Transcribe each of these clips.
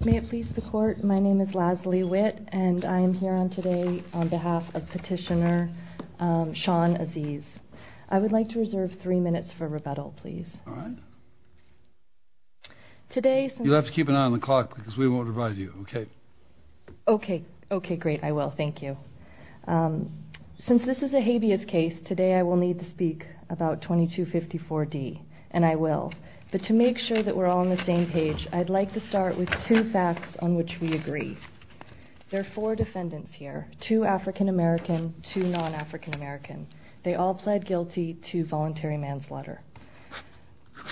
May it please the Court, my name is Lasley Witt and I am here today on behalf of Petitioner Sean Azeez. I would like to reserve three minutes for rebuttal, please. All right. You'll have to keep an eye on the clock because we won't revise you, okay? Okay. Okay, great. I will. Thank you. Since this is a habeas case, today I will need to speak about 2254D, and I will. But to make sure that we're all on the same page, I'd like to start with two facts on which we agree. There are four defendants here, two African-American, two non-African-American. They all pled guilty to voluntary manslaughter.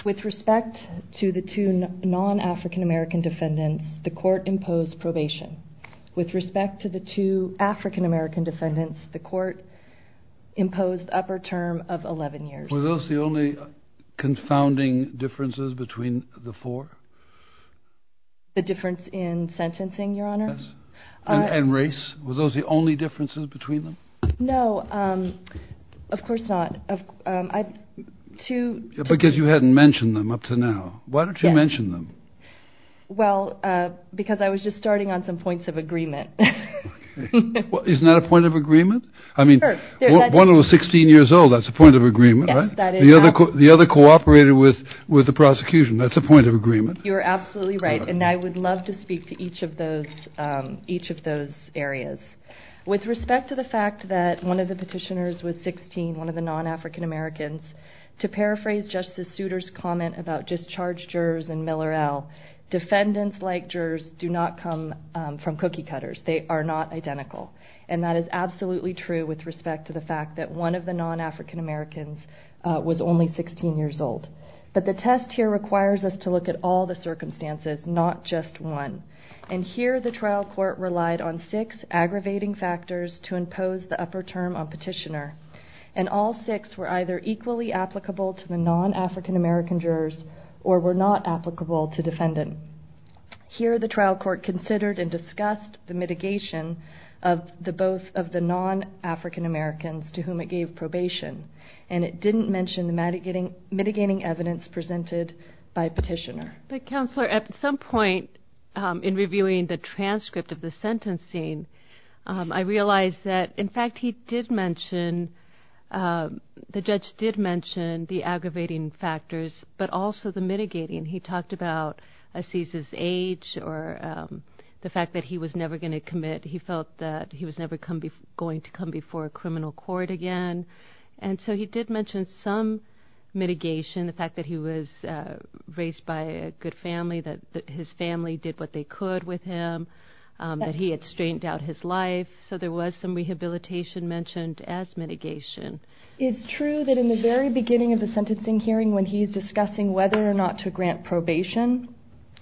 With respect to the two non-African-American defendants, the court imposed probation. With respect to the two African-American defendants, the court imposed upper term of 11 years. Were those the only confounding differences between the four? The difference in sentencing, Your Honor? Yes. And race. Were those the only differences between them? No. Of course not. Because you hadn't mentioned them up to now. Why don't you mention them? Well, because I was just starting on some points of agreement. Isn't that a point of agreement? I mean, one of them was 16 years old. That's a point of agreement. You're absolutely right. And I would love to speak to each of those areas. With respect to the fact that one of the petitioners was 16, one of the non-African-Americans, to paraphrase Justice Souter's comment about discharged jurors and Miller L., defendants like jurors do not come from cookie cutters. They are not identical. And that is absolutely true with respect to the fact that one of the non-African-Americans was only 16 years old. But the test here requires us to look at all the circumstances, not just one. And here the trial court relied on six aggravating factors to impose the upper term on petitioner. And all six were either equally applicable to the non-African-American jurors or were not applicable to defendant. Here the trial court considered and discussed the mitigating evidence presented by petitioner. But Counselor, at some point in reviewing the transcript of the sentencing, I realized that in fact he did mention, the judge did mention the aggravating factors, but also the mitigating. He talked about Aziz's age or the fact that he was never going to commit. He felt that he was never going to come before a criminal court again. And so he did mention some mitigation, the fact that he was raised by a good family, that his family did what they could with him, that he had strained out his life. So there was some rehabilitation mentioned as mitigation. It's true that in the very beginning of the sentencing hearing when he's discussing whether or not to grant probation,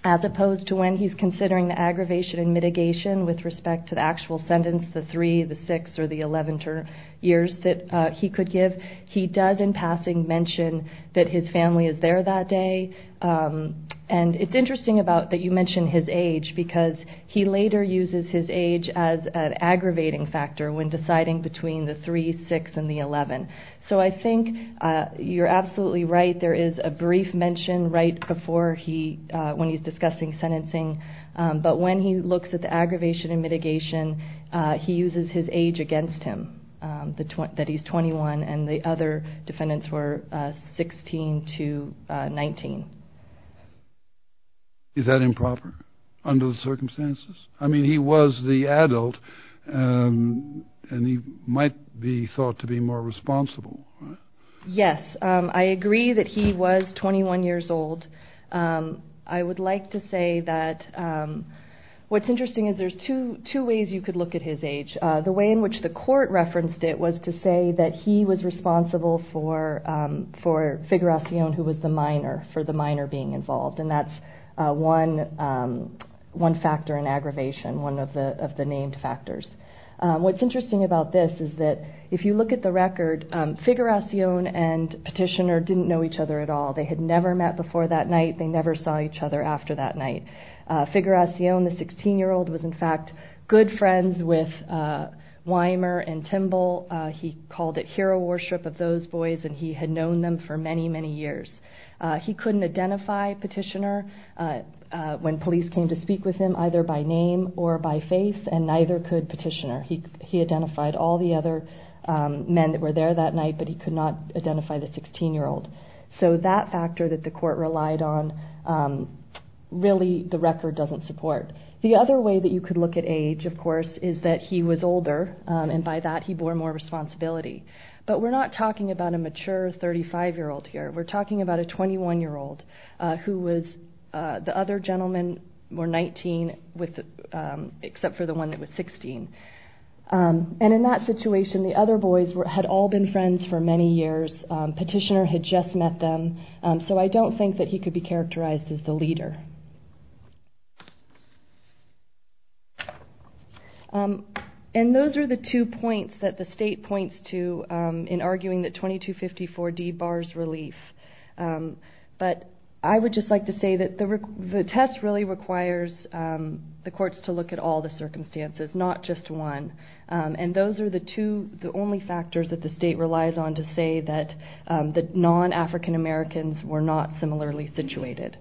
as opposed to when he's considering the aggravation and mitigation with respect to the actual sentence, the 3, the 6, or the 11 years that he could give, he does in passing mention that his family is there that day. And it's interesting that you mention his age because he later uses his age as an aggravating factor when deciding between the 3, 6, and the 11. So I think you're absolutely right, there is a brief mention right before he, when he's discussing sentencing. But when he looks at the aggravation and mitigation, he uses his age against him, that he's 21 and the other defendants were 16 to 19. Is that improper under the circumstances? I mean he was the adult and he might be thought to be more responsible, right? Yes, I agree that he was 21 years old. I would like to say that, what's interesting is there's two ways you could look at his age. The way in which the court referenced it was to say that he was responsible for Figuracion who was the minor, for the minor being involved. And that's one factor in aggravation, one of the other factors in mitigation. To get the record, Figuracion and Petitioner didn't know each other at all. They had never met before that night, they never saw each other after that night. Figuracion, the 16 year old, was in fact good friends with Wymer and Timbal. He called it hero worship of those boys and he had known them for many, many years. He couldn't identify Petitioner when police came to speak with him either by name or by face and neither could Petitioner. He identified all the other men that were there that night but he could not identify the 16 year old. So that factor that the court relied on, really the record doesn't support. The other way that you could look at age, of course, is that he was older and by that he bore more responsibility. But we're not talking about a mature 35 year old here. We're talking about a 21 year old who was, the other gentlemen were 19 except for the one that was 16. And in that situation the other boys had all been friends for many years. Petitioner had just met them. So I don't think that he could be characterized as the leader. And those are the two points that the state points to in arguing that 2254D bars relief. But I would just like to say that the test really requires the courts to look at all the circumstances, not just one. And those are the two, the only factors that the state relies on to say that the non-African Americans were not similarly situated.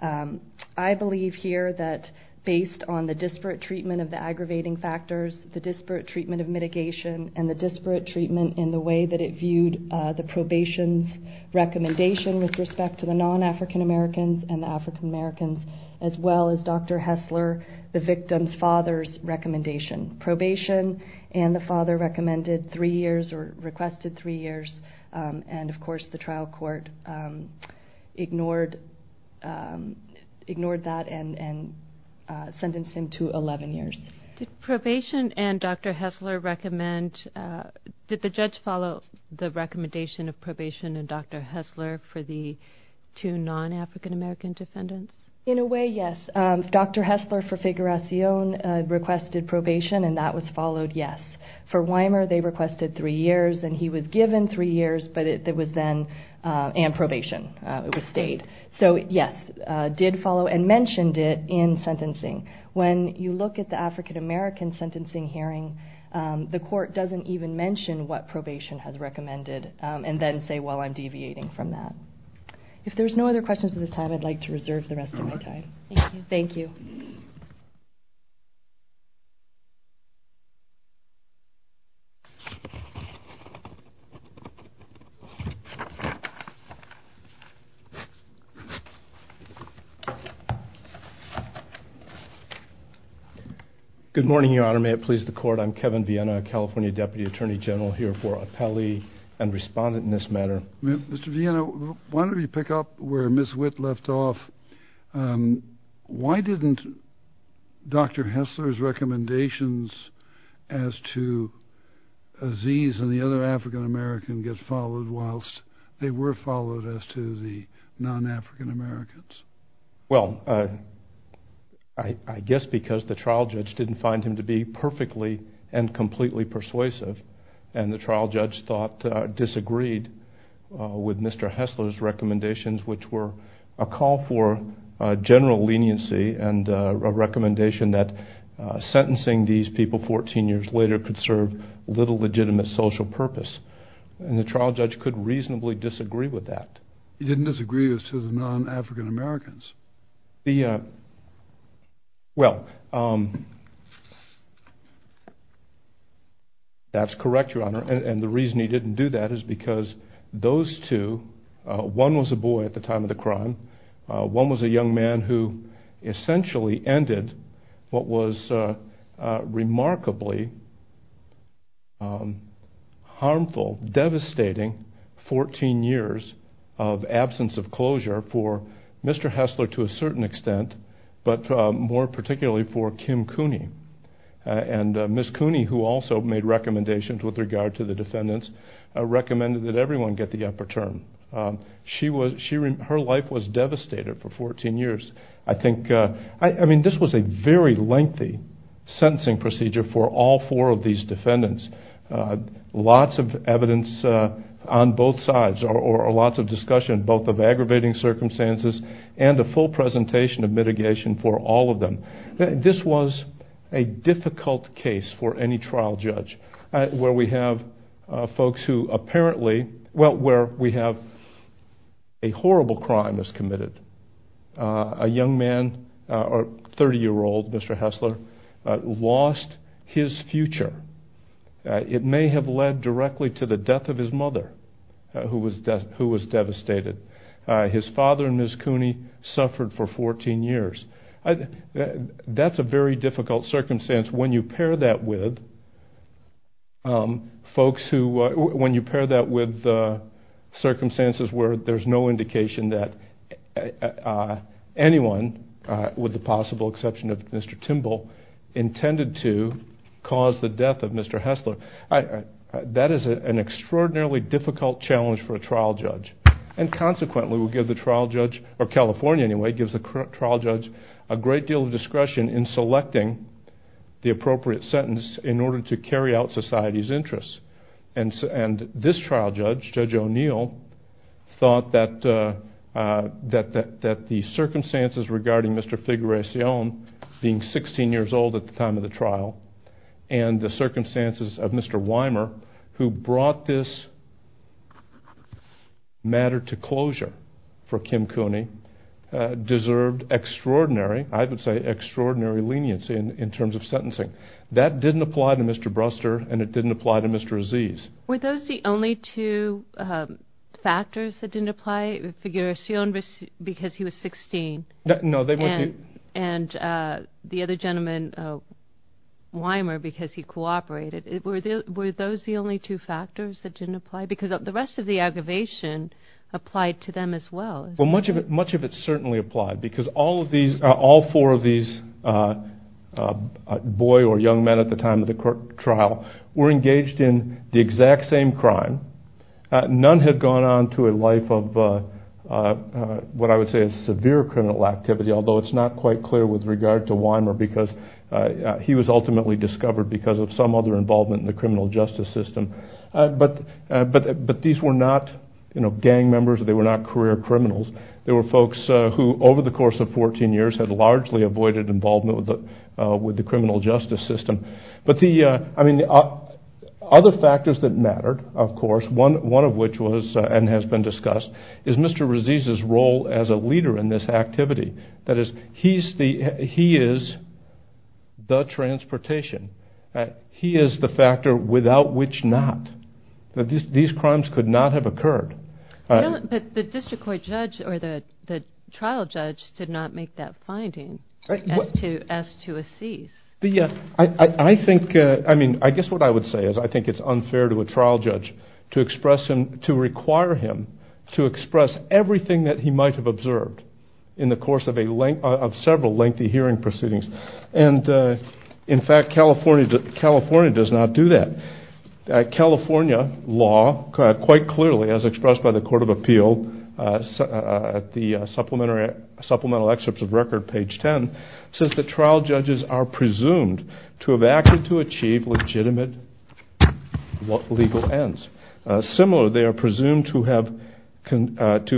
I believe here that based on the disparate treatment of the aggravating factors, the disparate treatment of mitigation and the disparate treatment in the way that it viewed the probation recommendation with respect to the non-African Americans and the African Americans as well as Dr. Hessler, the victim's father's recommendation. Probation and the father recommended three years or requested three years. And of course the trial court ignored that and sentenced him to 11 years. Did probation and Dr. Hessler recommend, did the judge follow the recommendation of probation and Dr. Hessler for the two non-African American defendants? In a way, yes. Dr. Hessler for Figuracion requested probation and that was followed, yes. For Weimer they requested three years and he was given three years but it was then, and probation, it was stayed. So yes, did follow and mentioned it in sentencing. When you look at the African American sentencing hearing, the court doesn't even mention what probation has recommended and then say, well, I'm deviating from that. If there's no other questions at this time, I'd like to reserve the rest of my time. Thank you. Good morning, Your Honor. May it please the court, I'm Kevin Viena, California Deputy Attorney General here for Apelli and respondent in this matter. Mr. Viena, why don't we pick up where Ms. Witt left off. Why didn't Dr. Hessler's recommendations as to Aziz and the other African American get followed whilst they were followed as to the non-African Americans? Well, I guess because the trial judge didn't find him to be perfectly and completely persuasive and the trial judge disagreed with Mr. Hessler's recommendations which were a call for general leniency and a recommendation that sentencing these people 14 years later could serve little legitimate social purpose. And the trial judge could reasonably disagree with that. He didn't disagree as to the non-African Americans. Well, that's correct, Your Honor, and the reason he didn't do that is because those two, one was a boy at the time of the crime, one was a young man who essentially ended what was remarkably harmful, devastating 14 years of absence of closure for Mr. Hessler to a certain extent, but more particularly for Kim Cooney. And Ms. Cooney, who also made recommendations with regard to the defendants, recommended that everyone get the upper term. Her life was devastated for 14 years. I think, I mean, this was a very lengthy sentencing procedure for all four of these defendants. Lots of evidence on both sides or lots of full presentation of mitigation for all of them. This was a difficult case for any trial judge where we have folks who apparently, well, where we have a horrible crime that's committed. A young man, 30-year-old Mr. Hessler, lost his future. It may have led directly to the death of his mother, who was devastated. His father, Ms. Cooney, suffered for 14 years. That's a very difficult circumstance when you pair that with folks who, when you pair that with circumstances where there's no indication that anyone, with the possible exception of an extraordinarily difficult challenge for a trial judge. And consequently, we'll give the trial judge, or California anyway, gives the trial judge a great deal of discretion in selecting the appropriate sentence in order to carry out society's interests. And this trial judge, Judge O'Neill, thought that the circumstances regarding Mr. Figueracion being 16 years old at the time of the trial and the circumstances of Mr. Weimer, who brought this matter to closure for Kim Cooney, deserved extraordinary, I would say extraordinary leniency in terms of sentencing. That didn't apply to Mr. Bruster and it didn't apply to Mr. Aziz. Were those the only two factors that didn't apply? Figuercion because he was 16? No, they weren't. And the other gentleman, Weimer, because he cooperated. Were those the only two factors that didn't apply? Because the rest of the aggravation applied to them as well. Much of it certainly applied because all four of these boy or young men at the time of the court trial were engaged in the exact same crime. None had gone on to a life of what I would say is severe criminal activity, although it's not quite clear with regard to Weimer because he was ultimately discovered because of some other involvement in the criminal justice system. But these were not gang members. They were not career criminals. They were folks who, over the course of 14 years, had largely avoided involvement with the criminal justice system. Other factors that mattered, of course, one of which was, and has been discussed, is Mr. Weimer as a leader in this activity. That is, he is the transportation. He is the factor without which not. These crimes could not have occurred. But the district court judge or the trial judge did not make that finding as to Aziz. I think, I mean, I guess what I would say is I think it's unfair to a trial judge to require him to express everything that he might have observed in the course of several lengthy hearing proceedings. And, in fact, California does not do that. California law quite clearly, as expressed by the Court of Appeal at the Supplemental Excerpts of Record, page 10, says that trial judges are presumed to have acted to achieve legitimate legal ends. Similarly, they are presumed to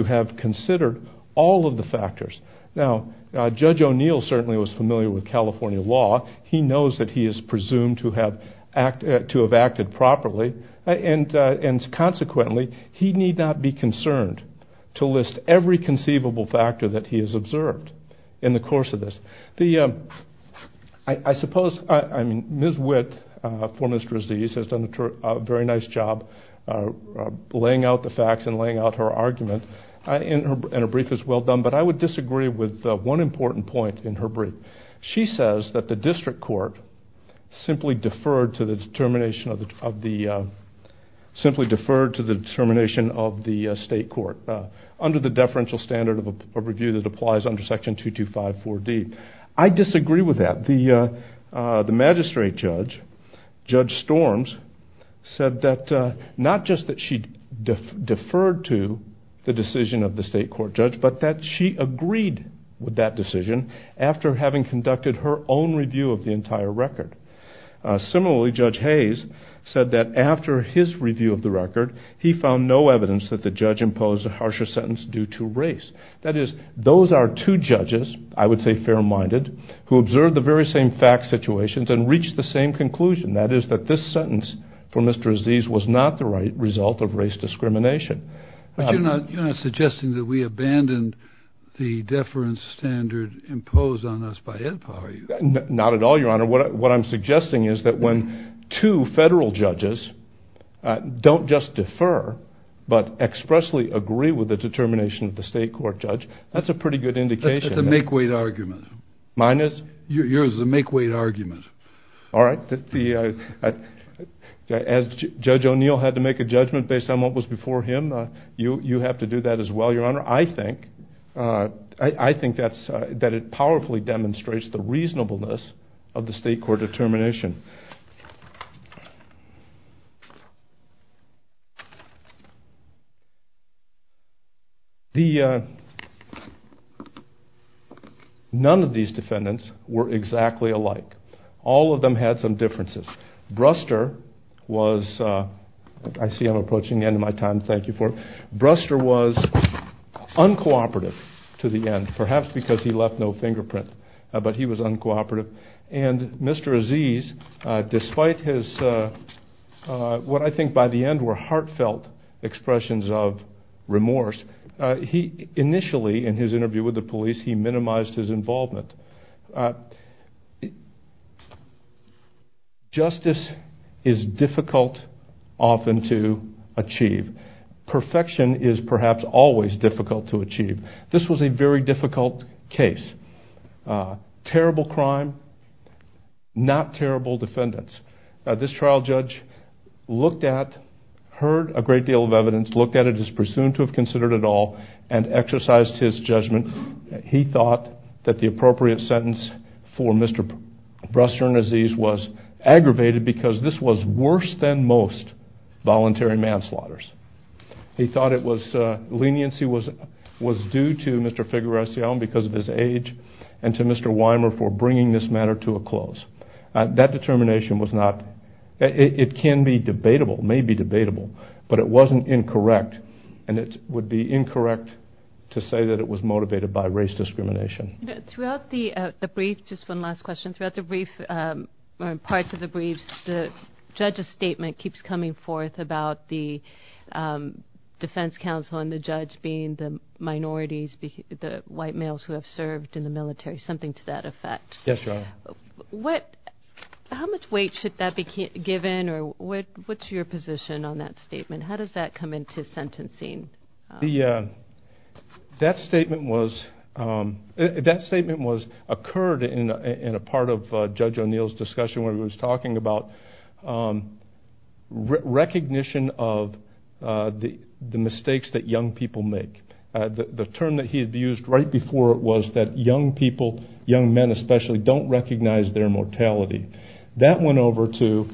have considered all of the factors. Now, Judge O'Neill certainly was familiar with California law. He knows that he is presumed to have acted properly. And, consequently, he need not be concerned to list every conceivable factor that he has observed in the course of this. I suppose, I mean, Ms. Witt for Mr. Aziz has done a very nice job laying out the facts and laying out her argument. And her brief is well done. But I would disagree with one important point in her brief. She says that the district court simply deferred to the determination of the state court under the deferential standard of review that applies under Section 225-4D. I disagree with that. The magistrate judge, Judge Storms, said that not just that she deferred to the decision of the state court judge, but that she agreed with that decision after having conducted her own review of the entire record. Similarly, Judge Hayes said that after his review of the record, he found no evidence that the judge imposed a harsher sentence due to race. That is, those are two judges, I would say fair-minded, who observed the very same fact situations and reached the same conclusion. That is, that this sentence for Mr. Aziz was not the right result of race discrimination. But you're not suggesting that we abandoned the deference standard imposed on us by EDPA, are you? Not at all, Your Honor. What I'm suggesting is that when two federal judges don't just expressly agree with the determination of the state court judge, that's a pretty good indication. That's a make-weight argument. Mine is? Yours is a make-weight argument. All right. As Judge O'Neill had to make a judgment based on what was before him, you have to do that as well, Your Honor. I think that it powerfully demonstrates the reasonableness of the state court determination. None of these defendants were exactly alike. All of them had some differences. Bruster was... I see I'm approaching the end of my time. Thank you for it. Bruster was uncooperative to the end, perhaps because he left no fingerprint, but he was uncooperative. And Mr. Aziz, despite his... what I think by the end were heartfelt expressions of remorse, he initially, in his interview with the police, he minimized his involvement. Justice is difficult often to achieve. Perfection is perhaps always difficult to achieve. This was a very difficult case. Terrible crime, not terrible defendants. This trial judge looked at, heard a great deal of evidence, looked at it as presumed to have considered at all, and exercised his judgment. He thought that the appropriate sentence for Mr. Bruster and Aziz was aggravated because this was worse than most voluntary manslaughter. He thought it was... leniency was due to Mr. Figueroa because of his age, and to Mr. Weimer for bringing this matter to a close. That determination was not... it can be debatable, may be debatable, but it wasn't incorrect, and it would be incorrect to say that it was motivated by race discrimination. Throughout the brief, just one last question, throughout the brief, or parts of the brief, the judge's statement keeps coming forth about the defense counsel and the judge being the minorities, the white males who have served in the military, something to that effect. Yes, Your Honor. What... how much weight should that be given, or what's your position on that statement? How does that come into sentencing? That statement was... that statement was... occurred in a part of Judge O'Neill's discussion when he was talking about recognition of the mistakes that young people make. The term that he had used right before was that young people, young men especially, don't recognize their mortality. That went over to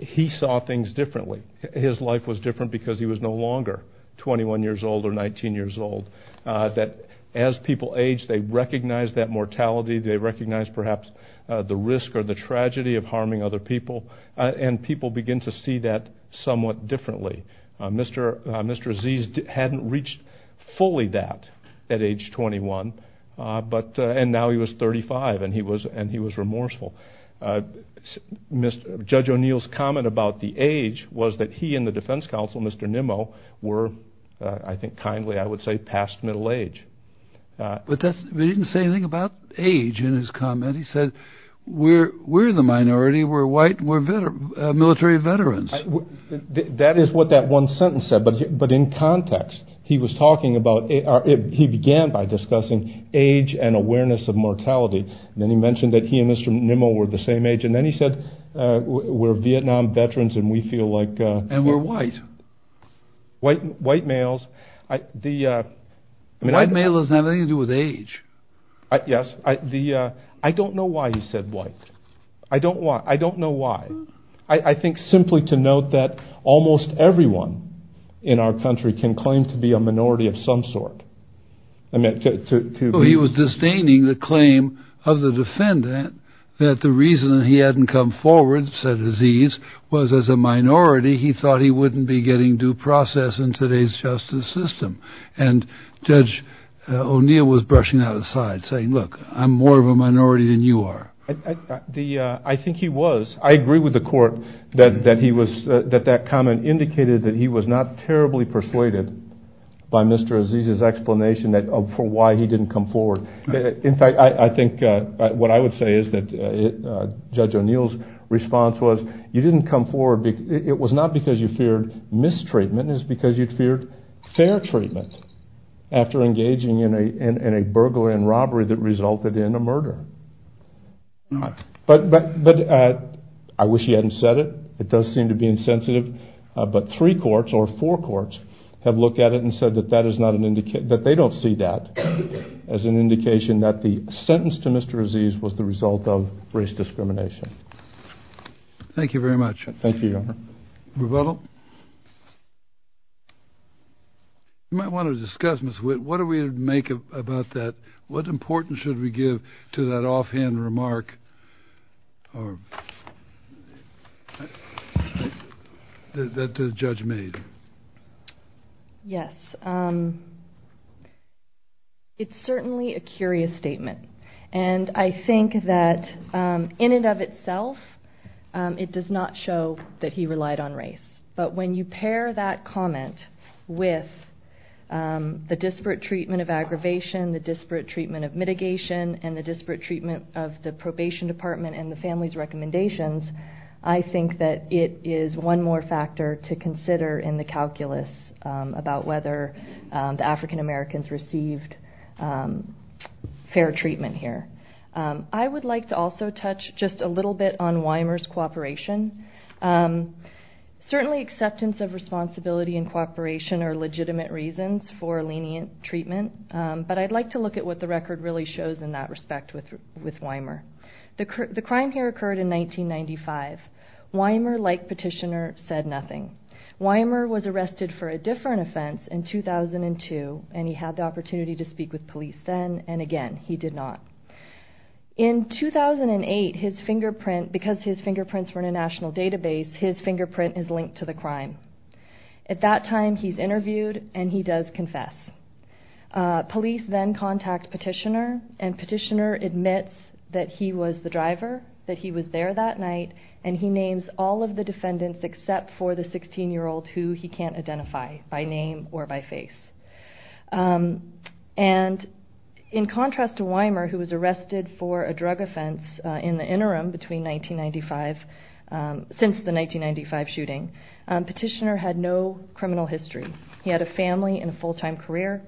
he saw things differently. His life was different because he was no longer 21 years old or 19 years old. That as people age, they recognize that mortality, they recognize perhaps the risk or the tragedy of harming other people, and people begin to see that somewhat differently. Mr. Aziz hadn't reached fully that at age 21, and now he was 35, and he was remorseful. Judge O'Neill's comment about the age was that he and the defense counsel, Mr. Nimmo, were, I think kindly, I would say, past middle age. But that's... he didn't say anything about age in his comment. He said, we're the minority, we're white, we're military veterans. That is what that one sentence said, but in context, he was talking about... he began by discussing age and awareness of mortality, and then he mentioned that he and Mr. Nimmo were the same age, and then he said, we're Vietnam veterans and we feel like... And we're white. White males... White males have nothing to do with age. Yes, I don't know why he said white. I don't know why. I think simply to note that almost everyone in our country can claim to be a minority of some sort. He was disdaining the claim of the defendant that the reason he hadn't come forward, said Aziz, was as a minority, he thought he wouldn't be getting due process in today's justice system. And Judge O'Neill was brushing that aside, saying, look, I'm more of a minority than you are. I think he was. I agree with the court that that comment indicated that he was not terribly persuaded by Mr. Aziz's explanation for why he didn't come forward. In fact, I think what I would say is that Judge O'Neill's response was, you didn't come forward, it was not because you feared mistreatment, it was because you feared fair treatment after engaging in a burglary and robbery that resulted in a murder. But I wish he hadn't said it. It does seem to be insensitive. But three courts or four courts have looked at it and said that they don't see that as an indication that the sentence to Mr. Aziz was the result of race discrimination. Thank you very much. Thank you, Your Honor. Rebuttal? You might want to discuss, Ms. Witt, what do we make about that? What importance should we give to that offhand remark that the judge made? Yes. It's certainly a curious statement. And I think that in and of itself, it does not show that he relied on race. But when you pair that comment with the disparate treatment of aggravation, the disparate treatment of mitigation, and the disparate treatment of the probation department and the family's recommendations, I think that it is one more factor to consider in the calculus about whether the African Americans received fair treatment here. I would like to also touch just a little bit on Weimer's cooperation. Certainly acceptance of responsibility and cooperation are legitimate reasons for lenient treatment, but I'd like to look at what the record really shows in that respect with Weimer. The crime here occurred in 1995. Weimer, like Petitioner, said nothing. Weimer was arrested for a different offense in 2002, and he had the opportunity to speak with police then, and again, he did not. In 2008, because his fingerprints were in a national database, his fingerprint is linked to the crime. At that time, he's interviewed, and he does confess. Police then contact Petitioner, and Petitioner admits that he was the driver, that he was there that night, and he names all of the defendants except for the 16-year-old who he can't identify by name or by face. And in contrast to Weimer, who was arrested for a drug offense in the interim since the 1995 shooting, Petitioner had no criminal history. He had a family and a full-time career,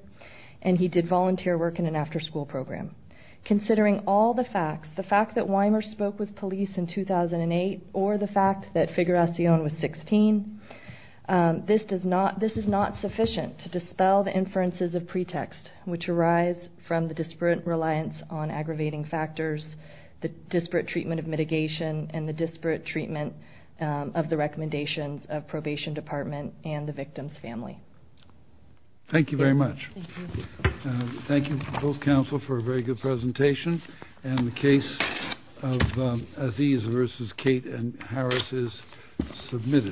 and he did volunteer work in an after-school program. Considering all the facts, the fact that Weimer spoke with police in 2008, or the fact that Figuracion was 16, this is not sufficient to dispel the inferences of pretext, which arise from the disparate reliance on aggravating factors, the disparate treatment of mitigation, and the disparate treatment of the recommendations of probation department and the victim's family. Thank you very much. Thank you. Thank you, both counsel, for a very good presentation, and the case of Aziz versus Kate and Harris is submitted.